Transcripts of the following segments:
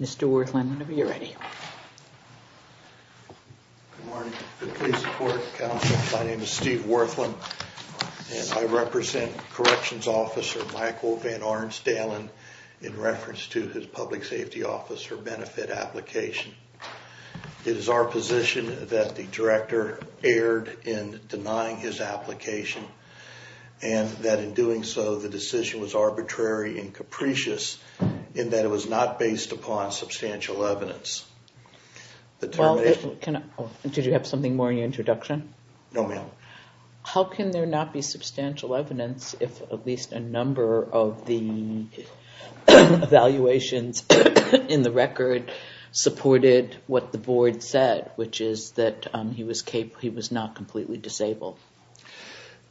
Mr. Werthlein, whenever you're ready. Good morning. Good case report, counsel. My name is Steve Werthlein. And I represent Corrections Officer Michael VanArnstdalen in reference to his Public Safety Officer benefit application. It is our position that the Director erred in denying his application and that in doing so the decision was arbitrary and capricious in that it was not based upon substantial evidence. Did you have something more in your introduction? No, ma'am. How can there not be substantial evidence if at least a number of the evaluations in the record supported what the board said, which is that he was not completely disabled?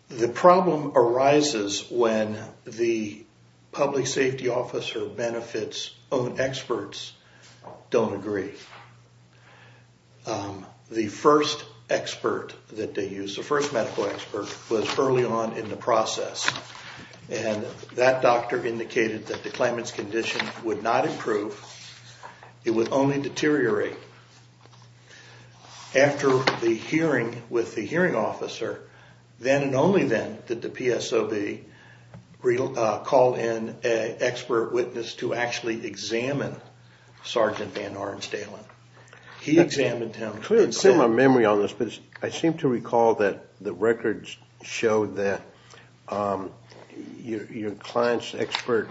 The problem arises when the Public Safety Officer benefits' own experts don't agree. The first expert that they used, the first medical expert, was early on in the process. And that doctor indicated that the claimant's condition would not improve. It would only deteriorate. After the hearing with the hearing officer, then and only then did the PSOB call in an expert witness to actually examine Sergeant VanArnstdalen. He examined him. Clearly, I don't have my memory on this, but I seem to recall that the records show that your client's expert,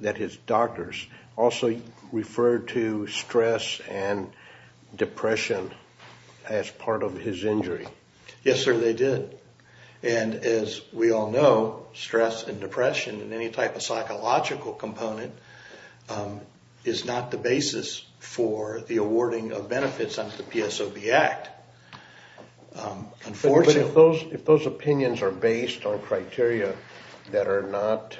that his doctors, also referred to stress and depression as part of his injury. Yes, sir, they did. And as we all know, stress and depression and any type of psychological component is not the basis for the awarding of benefits under the PSOB Act. But if those opinions are based on criteria that are not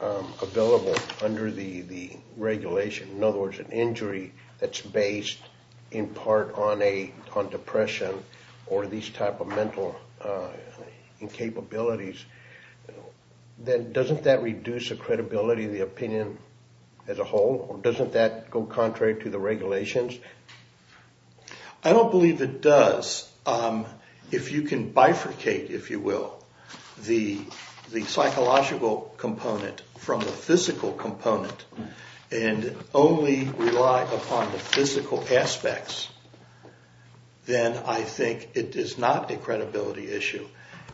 available under the regulation, in other words, an injury that's based in part on depression or these type of mental incapabilities, then doesn't that reduce the credibility of the opinion as a whole? Or doesn't that go contrary to the regulations? I don't believe it does. If you can bifurcate, if you will, the psychological component from the physical component and only rely upon the physical aspects, then I think it is not a credibility issue.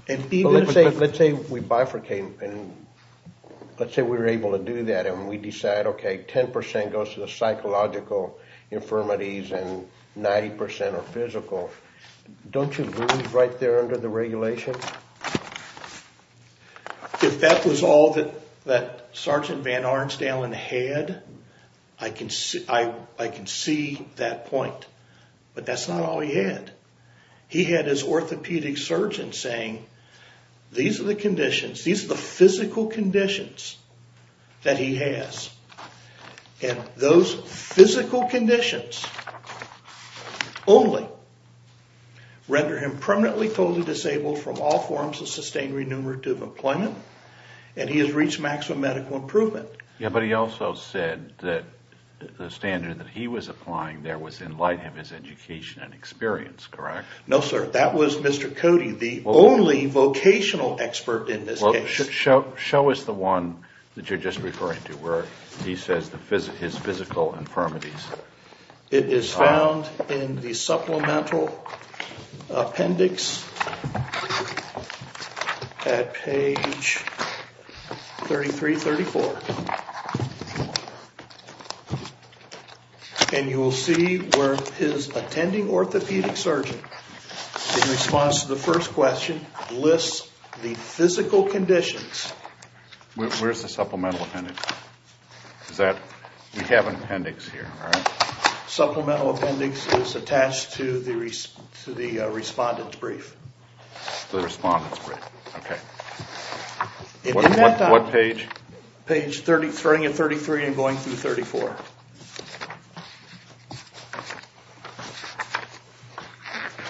Let's say we bifurcate and let's say we were able to do that and we decide, okay, 10% goes to the psychological infirmities and 90% are physical. Don't you lose right there under the regulation? If that was all that Sergeant Van Arenstalen had, I can see that point. But that's not all he had. He had his orthopedic surgeon saying these are the conditions, these are the physical conditions that he has. And those physical conditions only render him permanently totally disabled from all forms of sustained renumerative employment and he has reached maximum medical improvement. But he also said that the standard that he was applying there was in light of his education and experience, correct? No, sir. That was Mr. Cody, the only vocational expert in this case. Show us the one that you're just referring to where he says his physical infirmities. It is found in the supplemental appendix at page 3334. And you will see where his attending orthopedic surgeon, in response to the first question, lists the physical conditions. Where's the supplemental appendix? We have an appendix here, right? Supplemental appendix is attached to the respondent's brief. The respondent's brief, okay. What page? Page 3333 and going through 34.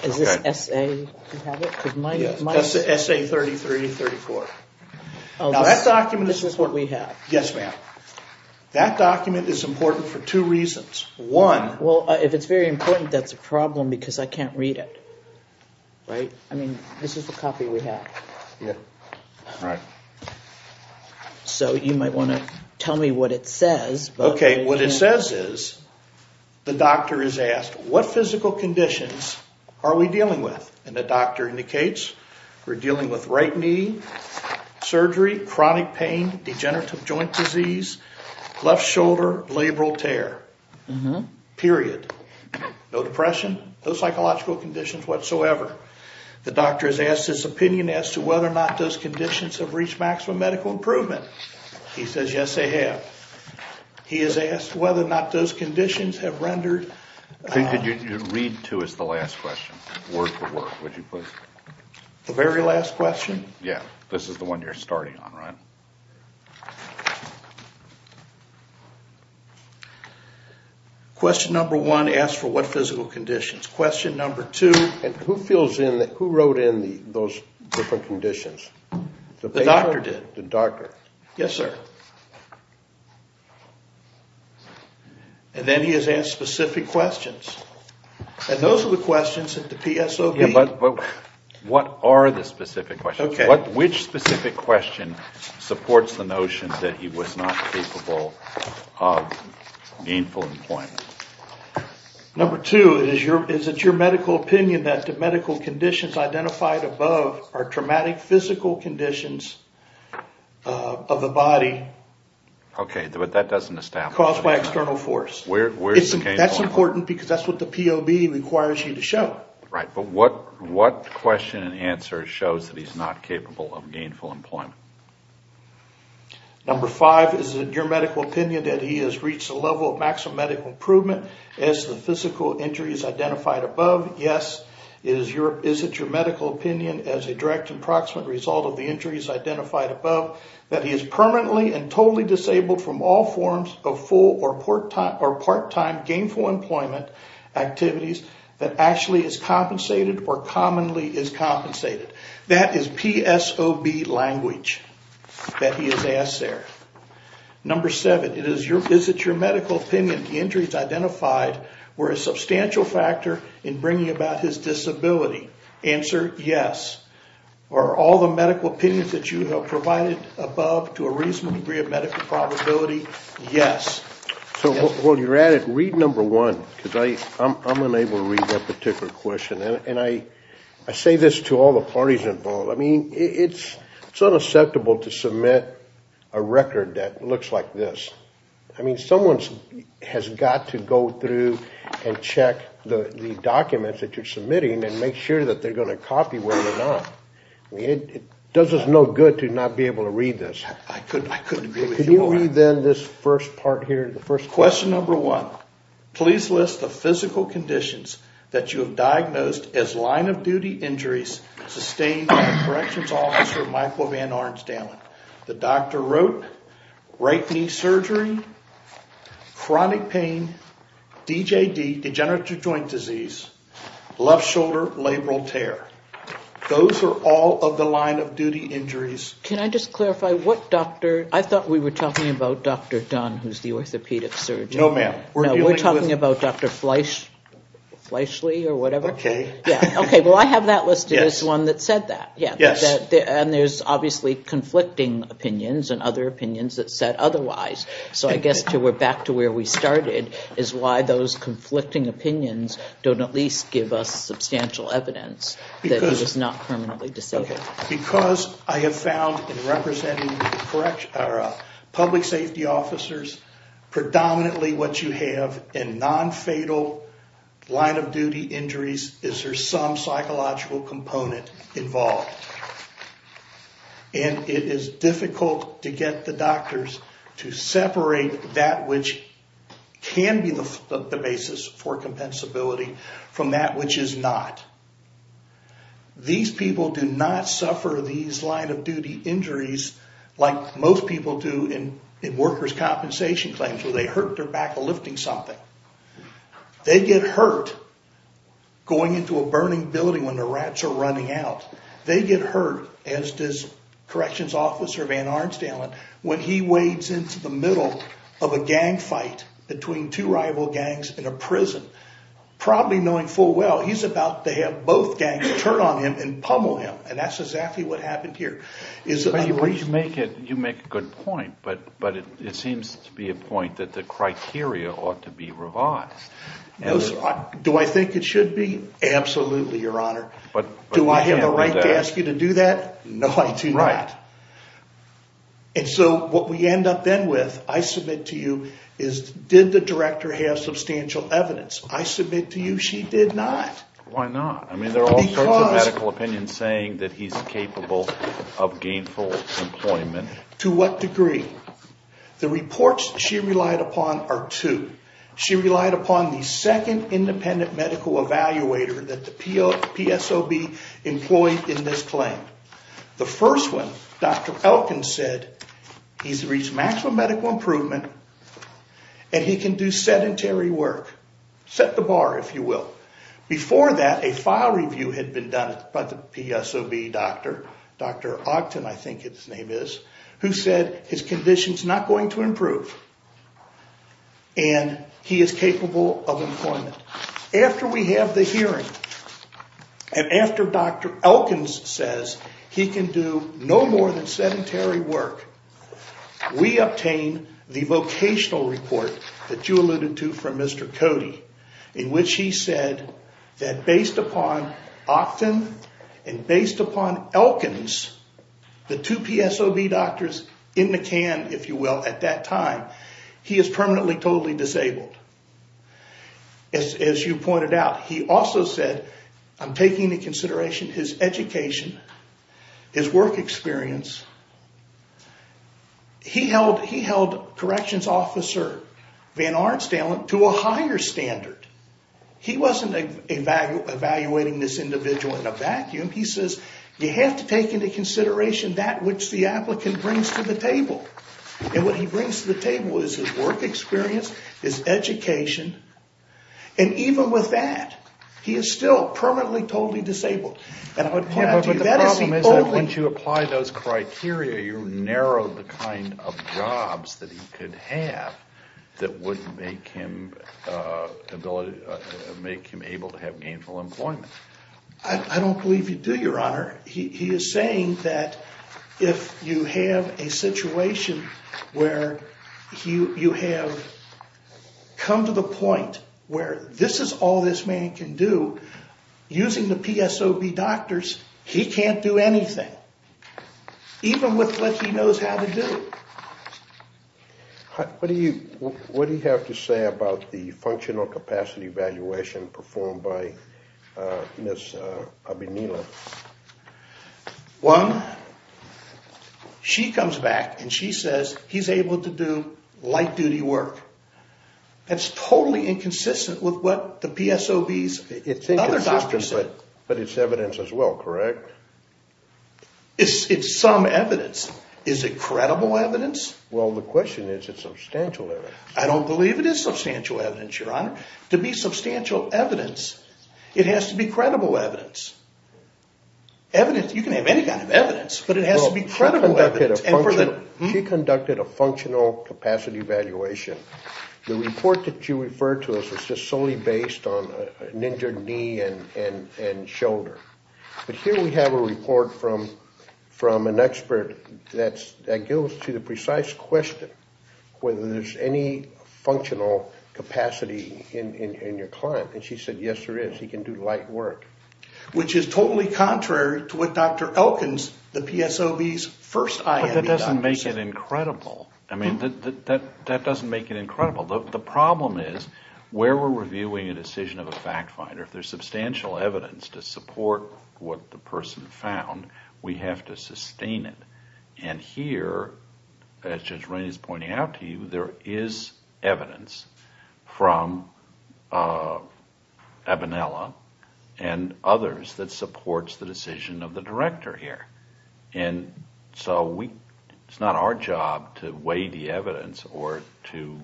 Is this SA you have it? Yes, that's SA 3334. This is what we have. Yes, ma'am. That document is important for two reasons. One... Well, if it's very important, that's a problem because I can't read it, right? I mean, this is the copy we have. Yeah, right. So you might want to tell me what it says. Okay, what it says is the doctor is asked, what physical conditions are we dealing with? And the doctor indicates we're dealing with right knee, surgery, chronic pain, degenerative joint disease, left shoulder, labral tear, period. No depression, no psychological conditions whatsoever. The doctor has asked his opinion as to whether or not those conditions have reached maximum medical improvement. He says, yes, they have. He has asked whether or not those conditions have rendered... Read to us the last question, word for word, would you please? The very last question? Yeah, this is the one you're starting on, right? Question number one asks for what physical conditions. Question number two... And who fills in, who wrote in those different conditions? The doctor did. The doctor. Yes, sir. And then he has asked specific questions. And those are the questions that the PSOB... Yeah, but what are the specific questions? Okay. Which specific question supports the notion that he was not capable of gainful employment? Number two, is it your medical opinion that the medical conditions identified above are traumatic physical conditions of the body? Okay, but that doesn't establish... Caused by external force. That's important because that's what the POB requires you to show. Right, but what question and answer shows that he's not capable of gainful employment? Number five, is it your medical opinion that he has reached a level of maximum medical improvement as the physical injuries identified above? Yes. Number six, is it your medical opinion as a direct and proximate result of the injuries identified above that he is permanently and totally disabled from all forms of full or part-time gainful employment activities that actually is compensated or commonly is compensated? That is PSOB language that he has asked there. Number seven, is it your medical opinion the injuries identified were a substantial factor in bringing about his disability? Answer, yes. Are all the medical opinions that you have provided above to a reasonable degree of medical probability? Yes. So while you're at it, read number one because I'm unable to read that particular question. And I say this to all the parties involved. I mean, it's unacceptable to submit a record that looks like this. I mean, someone has got to go through and check the documents that you're submitting and make sure that they're going to copy well or not. It does us no good to not be able to read this. I couldn't agree with you more. Can you read then this first part here? Question number one, please list the physical conditions that you have diagnosed as line-of-duty injuries sustained by Corrections Officer Michael Van Ornstammen. The doctor wrote right knee surgery, chronic pain, DJD, degenerative joint disease, left shoulder labral tear. Those are all of the line-of-duty injuries. Can I just clarify what doctor? I thought we were talking about Dr. Dunn, who's the orthopedic surgeon. No, ma'am. We're talking about Dr. Fleishly or whatever. Okay. Okay. Well, I have that listed as one that said that. Yes. And there's obviously conflicting opinions and other opinions that said otherwise. So I guess we're back to where we started is why those conflicting opinions don't at least give us substantial evidence that he was not permanently disabled. Okay. Because I have found in representing public safety officers, predominantly what you have in non-fatal line-of-duty injuries is there's some psychological component involved. And it is difficult to get the doctors to separate that which can be the basis for compensability from that which is not. These people do not suffer these line-of-duty injuries like most people do in workers' compensation claims where they hurt their back lifting something. They get hurt going into a burning building when the rats are running out. They get hurt, as does corrections officer Van Arnsdalen, when he wades into the middle of a gang fight between two rival gangs in a prison. Probably knowing full well he's about to have both gangs turn on him and pummel him. And that's exactly what happened here. You make a good point, but it seems to be a point that the criteria ought to be revised. Do I think it should be? Absolutely, Your Honor. But we can't do that. Do I have the right to ask you to do that? No, I do not. Right. And so what we end up then with, I submit to you, is did the director have substantial evidence? I submit to you she did not. Why not? I mean, there are all sorts of medical opinions saying that he's capable of gainful employment. To what degree? The reports she relied upon are two. She relied upon the second independent medical evaluator that the PSOB employed in this claim. The first one, Dr. Elkins, said he's reached maximum medical improvement and he can do sedentary work. Set the bar, if you will. Before that, a file review had been done by the PSOB doctor, Dr. Ogden, I think his name is, who said his condition's not going to improve and he is capable of employment. After we have the hearing and after Dr. Elkins says he can do no more than sedentary work, we obtain the vocational report that you alluded to from Mr. Cody, in which he said that based upon Ogden and based upon Elkins, the two PSOB doctors in the can, if you will, at that time, he is permanently totally disabled. As you pointed out, he also said, I'm taking into consideration his education, his work experience. He held corrections officer Van Arenstam to a higher standard. He wasn't evaluating this individual in a vacuum. He says, you have to take into consideration that which the applicant brings to the table. And what he brings to the table is his work experience, his education, and even with that, he is still permanently totally disabled. And I would point out to you, that is the only- But the problem is that once you apply those criteria, you narrow the kind of jobs that he could have that would make him able to have gainful employment. I don't believe you do, Your Honor. He is saying that if you have a situation where you have come to the point where this is all this man can do, using the PSOB doctors, he can't do anything, even with what he knows how to do. What do you have to say about the functional capacity evaluation performed by Ms. Abinila? One, she comes back and she says he's able to do light-duty work. That's totally inconsistent with what the PSOBs and other doctors said. It's inconsistent, but it's evidence as well, correct? It's some evidence. Is it credible evidence? Well, the question is, is it substantial evidence? I don't believe it is substantial evidence, Your Honor. To be substantial evidence, it has to be credible evidence. You can have any kind of evidence, but it has to be credible evidence. She conducted a functional capacity evaluation. The report that you referred to is just solely based on an injured knee and shoulder. But here we have a report from an expert that goes to the precise question, whether there's any functional capacity in your client. And she said, yes, there is. He can do light work. Which is totally contrary to what Dr. Elkins, the PSOB's first IME doctor said. But that doesn't make it incredible. I mean, that doesn't make it incredible. The problem is, where we're reviewing a decision of a fact finder, if there's substantial evidence to support what the person found, we have to sustain it. And here, as Judge Rainey's pointing out to you, there is evidence from Abinella and others that supports the decision of the director here. And so it's not our job to weigh the evidence or to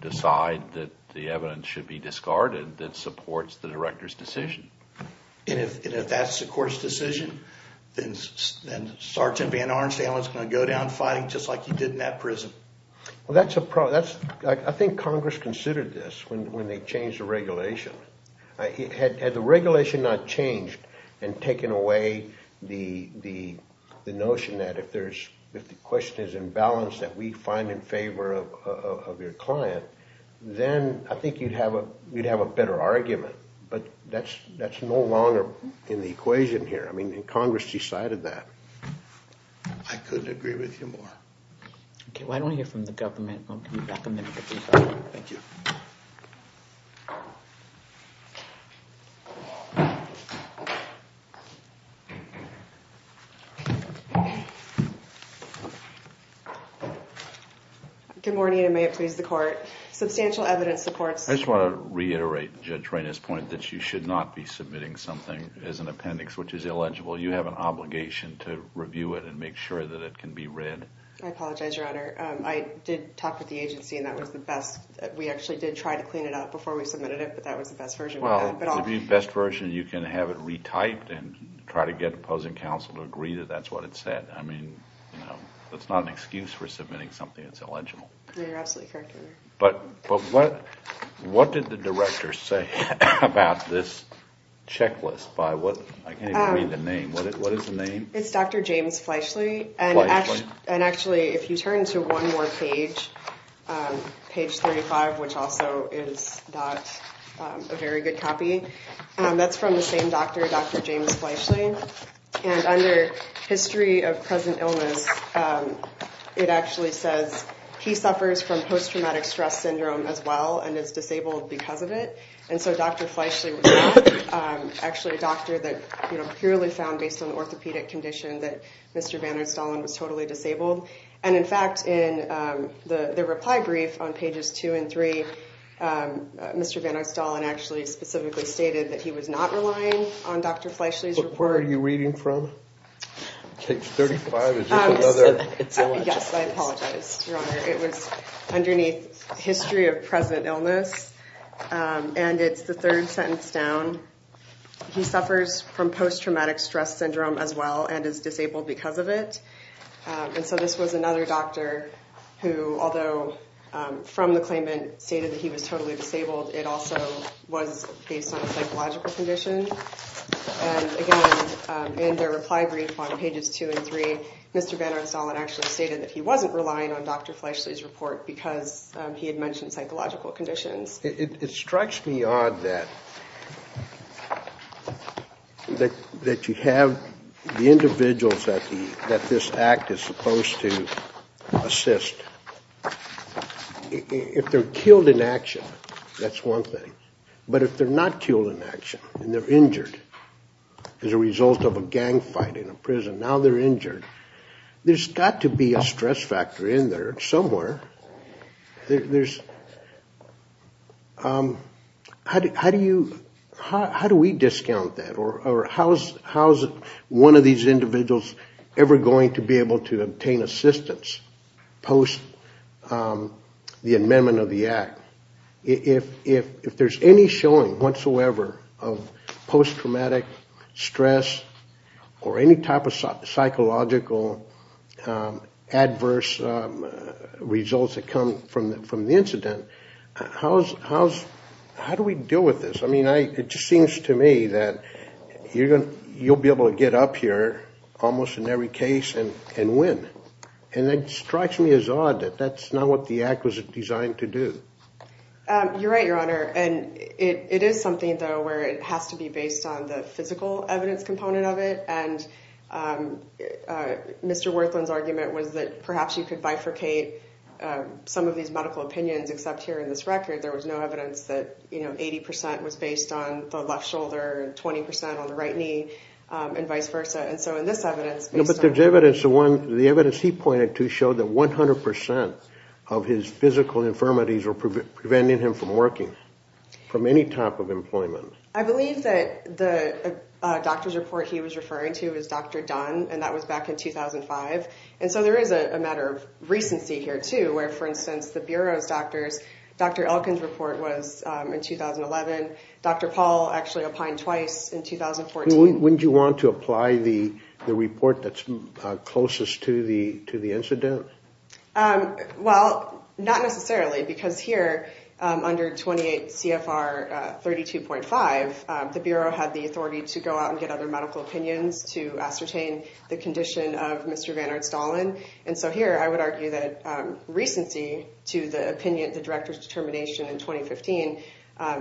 decide that the evidence should be discarded that supports the director's decision. And if that's the court's decision, then Sergeant Van Ornsteyn is going to go down fighting just like he did in that prison? Well, that's a problem. I think Congress considered this when they changed the regulation. Had the regulation not changed and taken away the notion that if the question is in balance that we find in favor of your client, then I think you'd have a better argument. But that's no longer in the equation here. I mean, Congress decided that. I couldn't agree with you more. Okay, well, I don't want to hear from the government. I'll give you back a minute if you'd like. Thank you. Good morning, and may it please the court. Substantial evidence supports I just want to reiterate Judge Reina's point that you should not be submitting something as an appendix, which is illegible. You have an obligation to review it and make sure that it can be read. I apologize, Your Honor. I did talk with the agency, and that was the best. We did try to clear the appendix. But that was the best version we had. Well, the best version, you can have it retyped and try to get opposing counsel to agree that that's what it said. I mean, that's not an excuse for submitting something that's illegible. You're absolutely correct, Your Honor. But what did the director say about this checklist? I can't even read the name. What is the name? It's Dr. James Fleischle. Fleischle? Actually, if you turn to one more page, page 35, which also is not a very good copy, that's from the same doctor, Dr. James Fleischle. And under history of present illness, it actually says he suffers from post-traumatic stress syndrome as well and is disabled because of it. And so Dr. Fleischle was actually a doctor that purely found, based on the orthopedic condition, that Mr. Van Oostalen was totally disabled. And in fact, in the reply brief on pages 2 and 3, Mr. Van Oostalen actually specifically stated that he was not relying on Dr. Fleischle's report. But where are you reading from? Page 35 is just another. Yes, I apologize, Your Honor. It was underneath history of present illness. And it's the third sentence down. He suffers from post-traumatic stress syndrome as well and is disabled because of it. And so this was another doctor who, although from the claimant stated that he was totally disabled, it also was based on a psychological condition. And again, in their reply brief on pages 2 and 3, Mr. Van Oostalen actually stated that he wasn't relying on Dr. Fleischle's report because he had mentioned psychological conditions. It strikes me odd that you have the individuals that this act is supposed to assist. If they're killed in action, that's one thing. But if they're not killed in action and they're injured as a result of a gang fight in a prison, now they're injured, there's got to be a stress factor in there somewhere. How do we discount that? Or how is one of these individuals ever going to be able to obtain assistance post the amendment of the act? If there's any showing whatsoever of post-traumatic stress or any type of psychological adverse results that come from the incident, how do we deal with this? It just seems to me that you'll be able to get up here almost in every case and win. It strikes me as odd that that's not what the act was designed to do. You're right, Your Honor. It is something, though, where it has to be based on the physical evidence component of it. Mr. Werthelin's argument was that perhaps you could bifurcate some of these medical opinions, except here in this record there was no evidence that 80% was based on the left shoulder and 20% on the right knee and vice versa. But the evidence he pointed to showed that 100% of his physical infirmities were preventing him from working, from any type of employment. I believe that the doctor's report he was referring to was Dr. Dunn, and that was back in 2005. And so there is a matter of recency here, too, where, for instance, the Bureau of Doctors, Dr. Elkin's report was in 2011, Dr. Paul actually applied twice in 2014. Wouldn't you want to apply the report that's closest to the incident? Well, not necessarily, because here, under 28 CFR 32.5, the Bureau had the authority to go out and get other medical opinions to ascertain the condition of Mr. Vannert-Stahlen. And so here, I would argue that recency to the opinion, the director's determination in 2015,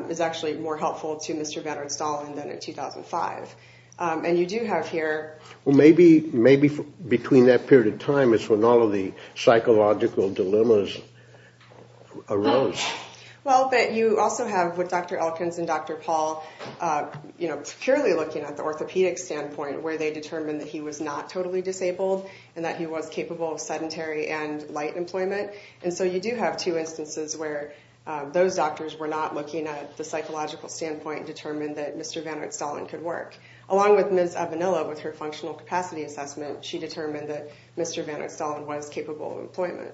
is actually more helpful to Mr. Vannert-Stahlen than in 2005. And you do have here... Well, maybe between that period of time is when all of the psychological dilemmas arose. Well, but you also have, with Dr. Elkins and Dr. Paul, purely looking at the orthopedic standpoint, where they determined that he was not totally disabled, and that he was capable of sedentary and light employment. And so you do have two instances where those doctors were not looking at the psychological standpoint, determined that Mr. Vannert-Stahlen could work. Along with Ms. Avenilla, with her functional capacity assessment, she determined that Mr. Vannert-Stahlen was capable of employment.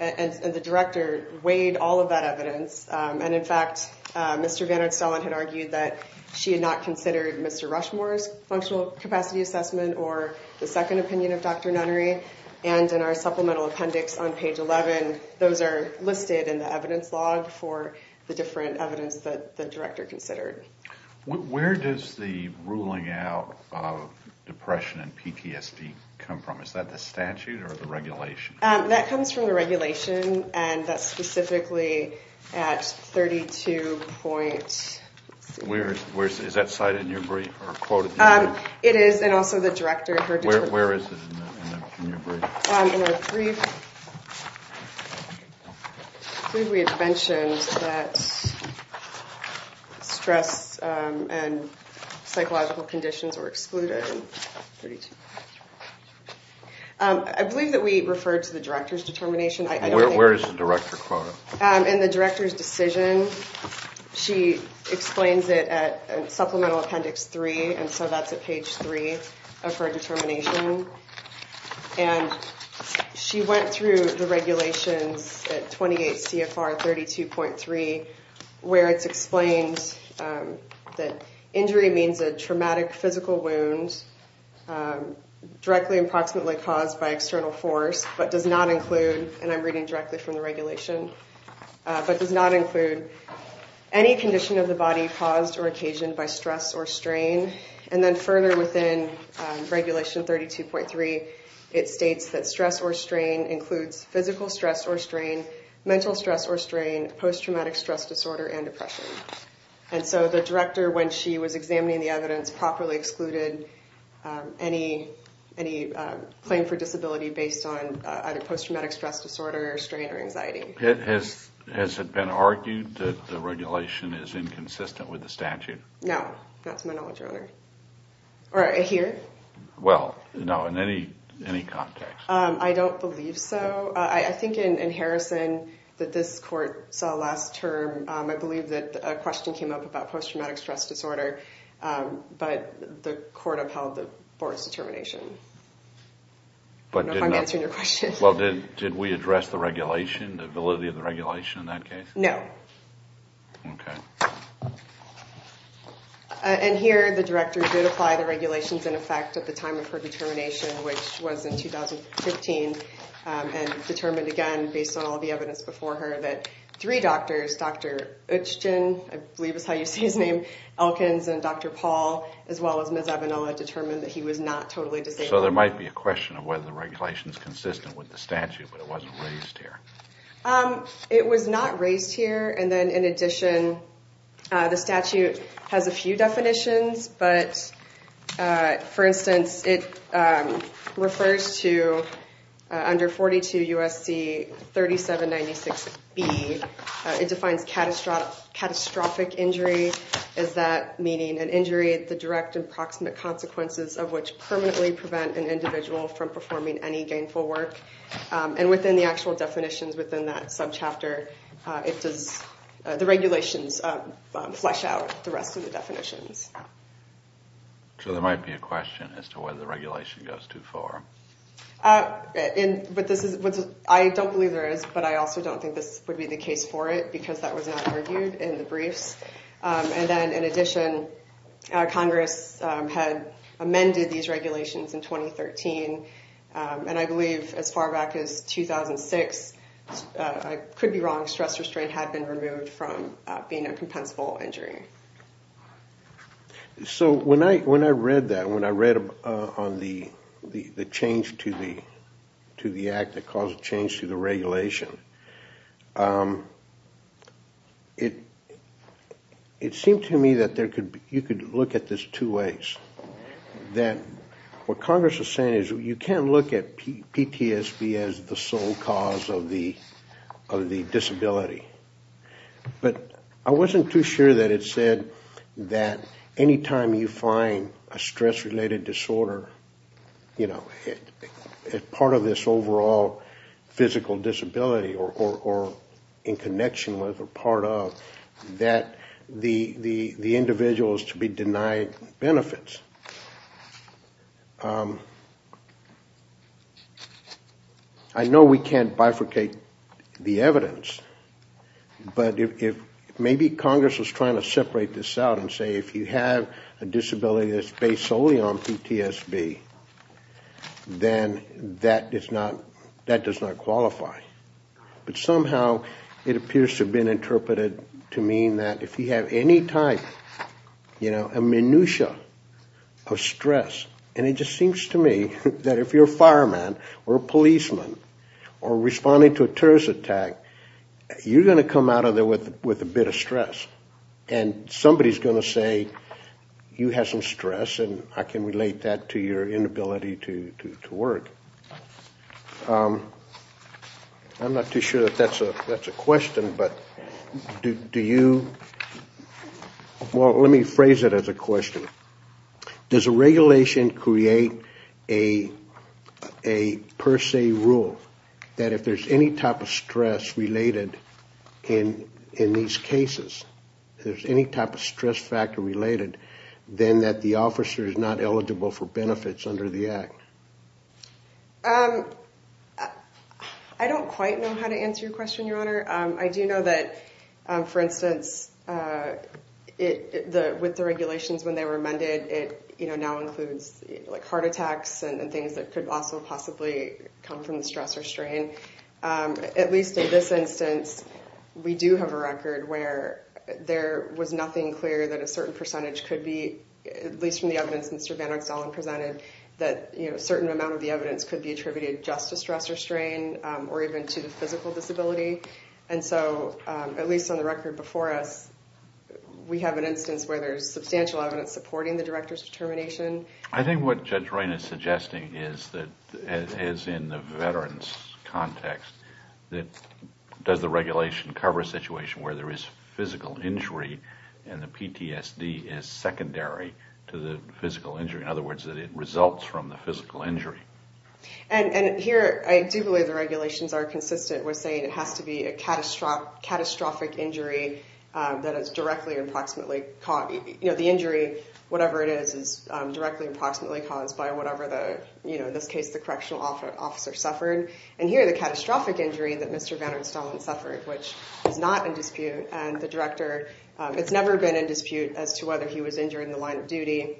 And the director weighed all of that evidence. And in fact, Mr. Vannert-Stahlen had argued that she had not considered Mr. Rushmore's functional capacity assessment or the second opinion of Dr. Nunnery. And in our supplemental appendix on page 11, those are listed in the evidence log for the different evidence that the director considered. Where does the ruling out of depression and PTSD come from? Is that the statute or the regulation? That comes from the regulation, and that's specifically at 32.6. Is that cited in your brief or quoted? It is, and also the director heard it. Where is it in your brief? In our brief, I believe we had mentioned that stress and psychological conditions were excluded. I believe that we referred to the director's determination. Where is the director quoted? In the director's decision, she explains it at supplemental appendix 3, and so that's at page 3 of her determination. And she went through the regulations at 28 CFR 32.3, where it's explained that injury means a traumatic physical wound directly and proximately caused by external force, but does not include, and I'm reading directly from the regulation, but does not include any condition of the body caused or occasioned by stress or strain. And then further within regulation 32.3, it states that stress or strain includes physical stress or strain, mental stress or strain, post-traumatic stress disorder, and depression. And so the director, when she was examining the evidence, properly excluded any claim for disability based on either post-traumatic stress disorder or strain or anxiety. Has it been argued that the regulation is inconsistent with the statute? No, not to my knowledge, Your Honor. Or here? Well, no, in any context. I don't believe so. I think in Harrison that this court saw last term, I believe that a question came up about post-traumatic stress disorder, but the court upheld the board's determination. I don't know if I'm answering your question. Well, did we address the regulation, the validity of the regulation in that case? No. Okay. Okay. And here, the director did apply the regulations in effect at the time of her determination, which was in 2015, and determined again, based on all the evidence before her, that three doctors, Dr. Uchgen, I believe is how you say his name, Elkins, and Dr. Paul, as well as Ms. Avenella, determined that he was not totally disabled. So there might be a question of whether the regulation is consistent with the statute, but it wasn't raised here. It was not raised here, and then in addition, the statute has a few definitions, but for instance, it refers to under 42 U.S.C. 3796B, it defines catastrophic injury as that meaning an injury at the direct and proximate consequences of which permanently prevent an individual from performing any gainful work. And within the actual definitions within that subchapter, the regulations flesh out the rest of the definitions. So there might be a question as to whether the regulation goes too far. I don't believe there is, but I also don't think this would be the case for it, because that was not argued in the briefs. And then in addition, Congress had amended these regulations in 2013, and I believe as far back as 2006, I could be wrong, stress restraint had been removed from being a compensable injury. So when I read that, when I read on the change to the act that caused the change to the regulation, it seemed to me that you could look at this two ways. That what Congress is saying is you can't look at PTSD as the sole cause of the disability. But I wasn't too sure that it said that any time you find a stress-related disorder, you know, part of this overall physical disability or in connection with or part of, that the individual is to be denied benefits. I know we can't bifurcate the evidence, but if maybe Congress was trying to separate this out and say if you have a disability that's based solely on PTSD, then that does not qualify. But somehow it appears to have been interpreted to mean that if you have any type, you know, a minutia of stress, and it just seems to me that if you're a fireman or a policeman or responding to a terrorist attack, you're going to come out of there with a bit of stress. And somebody's going to say you have some stress, and I can relate that to your inability to work. I'm not too sure that that's a question, but do you, well, let me phrase it as a question. Does a regulation create a per se rule that if there's any type of stress related in these cases, if there's any type of stress factor related, then that the officer is not eligible for benefits under the Act? I don't quite know how to answer your question, Your Honor. I do know that, for instance, with the regulations when they were amended, it now includes heart attacks and things that could also possibly come from the stress or strain. At least in this instance, we do have a record where there was nothing clear that a certain percentage could be, at least from the evidence Mr. Van Oxtollen presented, that a certain amount of the evidence could be attributed just to stress or strain or even to the physical disability. And so, at least on the record before us, we have an instance where there's substantial evidence supporting the director's determination. I think what Judge Raine is suggesting is that, as in the veteran's context, that does the regulation cover a situation where there is physical injury and the PTSD is secondary to the physical injury? In other words, that it results from the physical injury. And here, I do believe the regulations are consistent with saying it has to be a catastrophic injury that is directly or approximately caused. The injury, whatever it is, is directly or approximately caused by whatever the, in this case, the correctional officer suffered. And here, the catastrophic injury that Mr. Van Oxtollen suffered, which is not in dispute, and the director, it's never been in dispute as to whether he was injured in the line of duty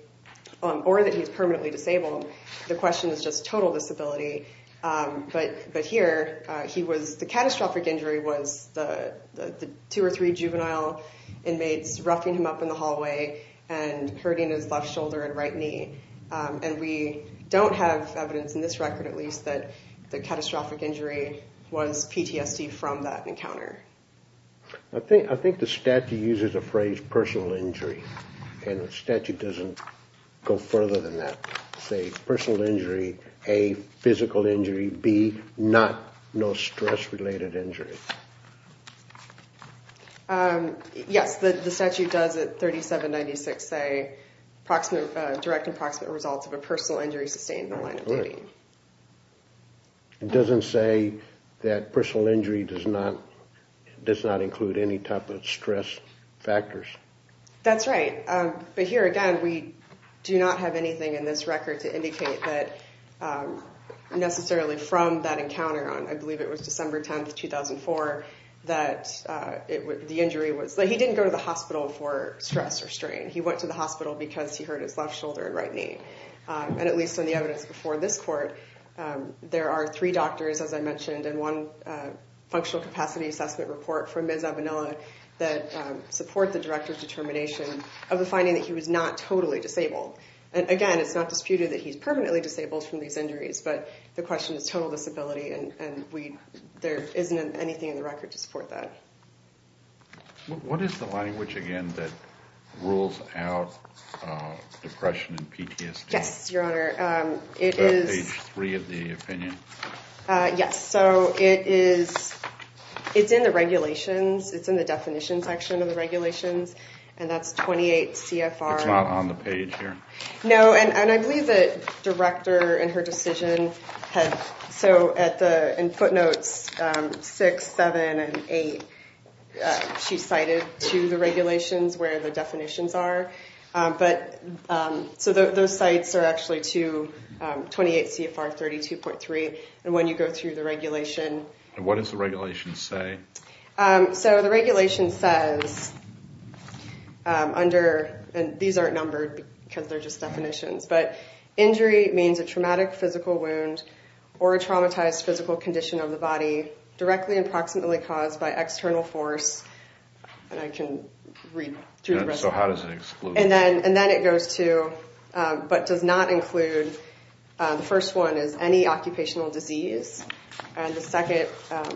or that he's permanently disabled. The question is just total disability. But here, the catastrophic injury was the two or three juvenile inmates roughing him up in the hallway and hurting his left shoulder and right knee. And we don't have evidence in this record, at least, that the catastrophic injury was PTSD from that encounter. I think the statute uses the phrase personal injury, and the statute doesn't go further than that. Say, personal injury, A, physical injury, B, not, no stress-related injury. Yes, the statute does at 3796 say direct and approximate results of a personal injury sustained in the line of duty. It doesn't say that personal injury does not include any type of stress factors. That's right. But here, again, we do not have anything in this record to indicate that necessarily from that encounter on, I believe it was December 10, 2004, that the injury was, that he didn't go to the hospital for stress or strain. He went to the hospital because he hurt his left shoulder and right knee. And at least in the evidence before this court, there are three doctors, as I mentioned, and one functional capacity assessment report from Ms. Avenilla that support the director's determination of the finding that he was not totally disabled. And again, it's not disputed that he's permanently disabled from these injuries, but the question is total disability, and there isn't anything in the record to support that. What is the language, again, that rules out depression and PTSD? Yes, Your Honor. Is that page three of the opinion? Yes. So it's in the regulations. It's in the definition section of the regulations, and that's 28 CFR. It's not on the page here? No, and I believe the director in her decision had, so in footnotes six, seven, and eight, she cited to the regulations where the definitions are. So those sites are actually to 28 CFR 32.3, and when you go through the regulation. And what does the regulation say? So the regulation says under, and these aren't numbered because they're just definitions, but injury means a traumatic physical wound or a traumatized physical condition of the body directly and proximately caused by external force. And I can read through the resolution. So how does it exclude? And then it goes to, but does not include, the first one is any occupational disease, and the second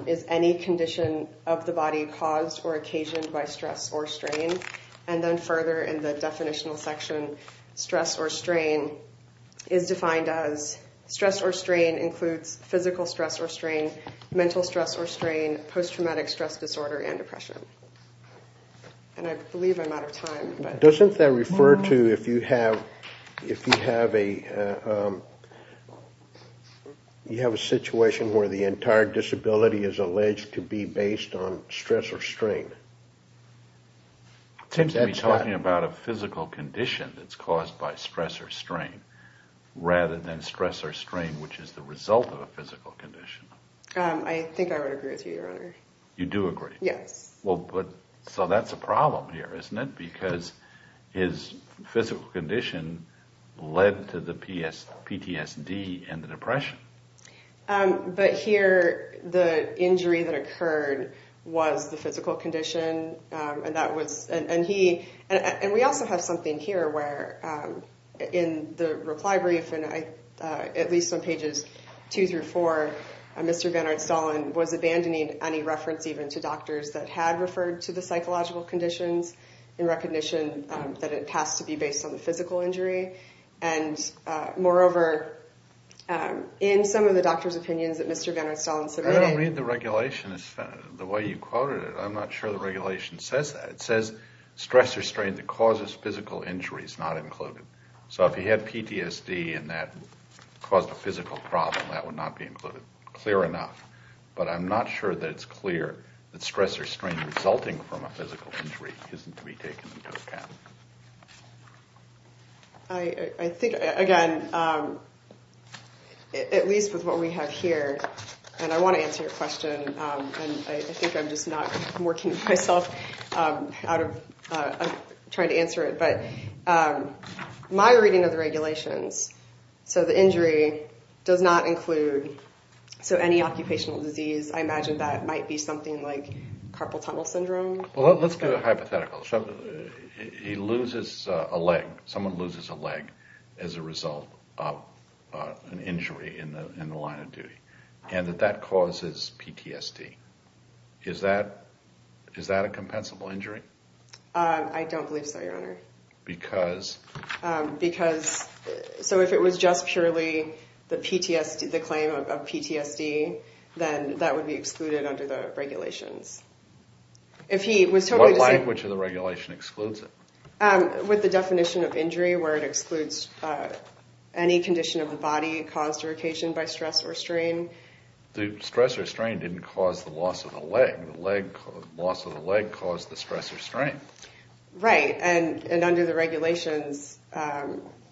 is any condition of the body caused or occasioned by stress or strain. And then further in the definitional section, stress or strain is defined as stress or strain includes physical stress or strain, mental stress or strain, post-traumatic stress disorder, and depression. And I believe I'm out of time. Doesn't that refer to if you have a situation where the entire disability is alleged to be based on stress or strain? It seems to be talking about a physical condition that's caused by stress or strain rather than stress or strain, which is the result of a physical condition. I think I would agree with you, your honor. You do agree? Yes. So that's a problem here, isn't it? Because his physical condition led to the PTSD and the depression. But here, the injury that occurred was the physical condition. And we also have something here where in the reply brief, at least on pages two through four, Mr. Bernard Stalin was abandoning any reference even to doctors that had referred to the psychological conditions in recognition that it has to be based on the physical injury. And moreover, in some of the doctors' opinions that Mr. Bernard Stalin submitted… I'm going to read the regulation, the way you quoted it. I'm not sure the regulation says that. It says stress or strain that causes physical injury is not included. So if he had PTSD and that caused a physical problem, that would not be included. Clear enough. But I'm not sure that it's clear that stress or strain resulting from a physical injury isn't to be taken into account. I think, again, at least with what we have here, and I want to answer your question, and I think I'm just not working myself out of trying to answer it. But my reading of the regulations, so the injury does not include any occupational disease. I imagine that might be something like carpal tunnel syndrome. Well, let's do a hypothetical. He loses a leg, someone loses a leg as a result of an injury in the line of duty, and that that causes PTSD. Is that a compensable injury? I don't believe so, Your Honor. Because? Because, so if it was just purely the claim of PTSD, then that would be excluded under the regulations. What language of the regulation excludes it? With the definition of injury where it excludes any condition of the body caused or occasioned by stress or strain. The stress or strain didn't cause the loss of the leg. The loss of the leg caused the stress or strain. Right, and under the regulations,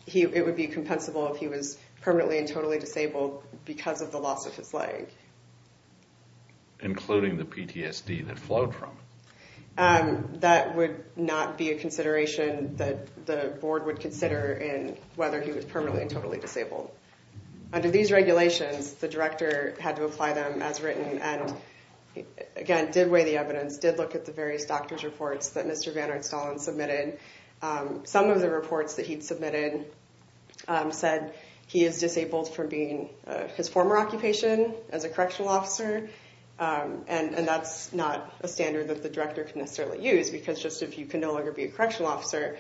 it would be compensable if he was permanently and totally disabled because of the loss of his leg. Including the PTSD that flowed from it. That would not be a consideration that the board would consider in whether he was permanently and totally disabled. Under these regulations, the director had to apply them as written and, again, did weigh the evidence, did look at the various doctor's reports that Mr. Van Arnstallen submitted. Some of the reports that he'd submitted said he is disabled from being his former occupation as a correctional officer. And that's not a standard that the director can necessarily use because just if you can no longer be a correctional officer,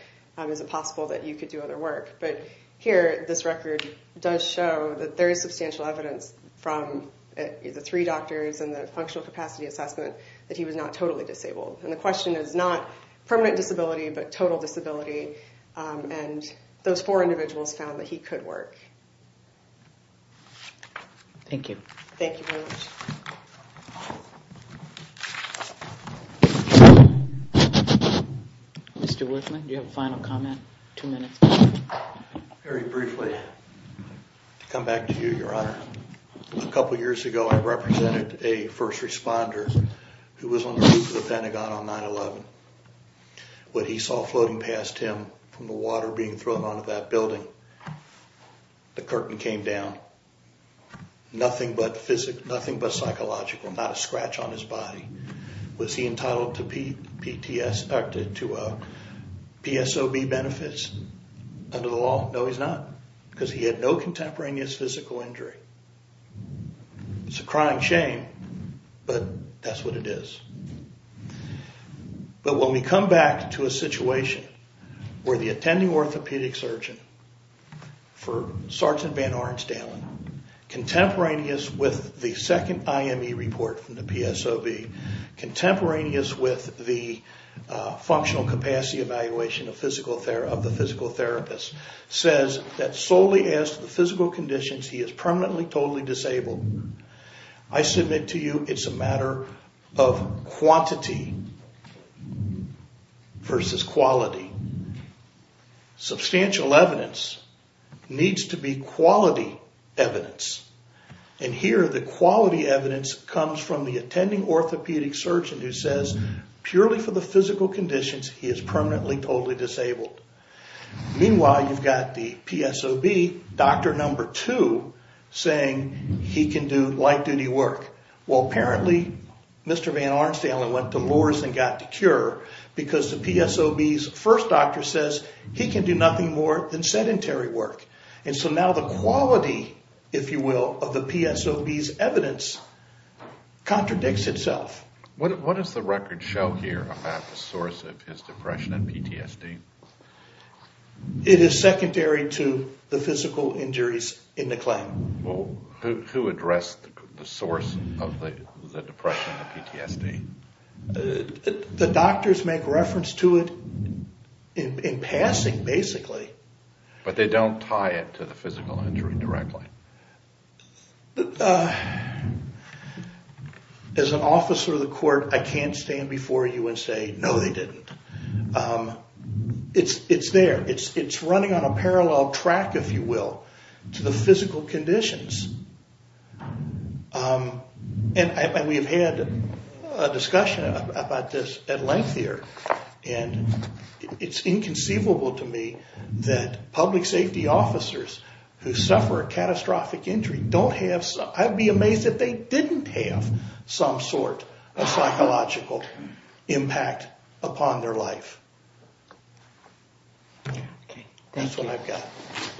is it possible that you could do other work? But here, this record does show that there is substantial evidence from the three doctors and the functional capacity assessment that he was not totally disabled. And the question is not permanent disability, but total disability. And those four individuals found that he could work. Thank you. Thank you very much. Mr. Whitman, do you have a final comment? Two minutes. Very briefly, to come back to you, Your Honor. A couple years ago, I represented a first responder who was on the roof of the Pentagon on 9-11. What he saw floating past him from the water being thrown onto that building, the curtain came down. Nothing but psychological, not a scratch on his body. Was he entitled to PSOB benefits under the law? No, he's not because he had no contemporaneous physical injury. It's a crying shame, but that's what it is. But when we come back to a situation where the attending orthopedic surgeon for Sergeant Van Ornstalen, contemporaneous with the second IME report from the PSOB, contemporaneous with the functional capacity evaluation of the physical therapist, says that solely as to the physical conditions, he is permanently, totally disabled, I submit to you it's a matter of quantity versus quality. Substantial evidence needs to be quality evidence. And here, the quality evidence comes from the attending orthopedic surgeon who says, purely for the physical conditions, he is permanently, totally disabled. Meanwhile, you've got the PSOB, doctor number two, saying he can do light-duty work. Well, apparently, Mr. Van Ornstalen went to Lourdes and got the cure because the PSOB's first doctor says he can do nothing more than sedentary work. And so now the quality, if you will, of the PSOB's evidence contradicts itself. What does the record show here about the source of his depression and PTSD? It is secondary to the physical injuries in the claim. Who addressed the source of the depression and the PTSD? The doctors make reference to it in passing, basically. But they don't tie it to the physical injury directly. As an officer of the court, I can't stand before you and say, no, they didn't. It's there. It's running on a parallel track, if you will, to the physical conditions. And we have had a discussion about this at length here. And it's inconceivable to me that public safety officers who suffer a catastrophic injury don't have some I'd be amazed if they didn't have some sort of psychological impact upon their life. That's what I've got.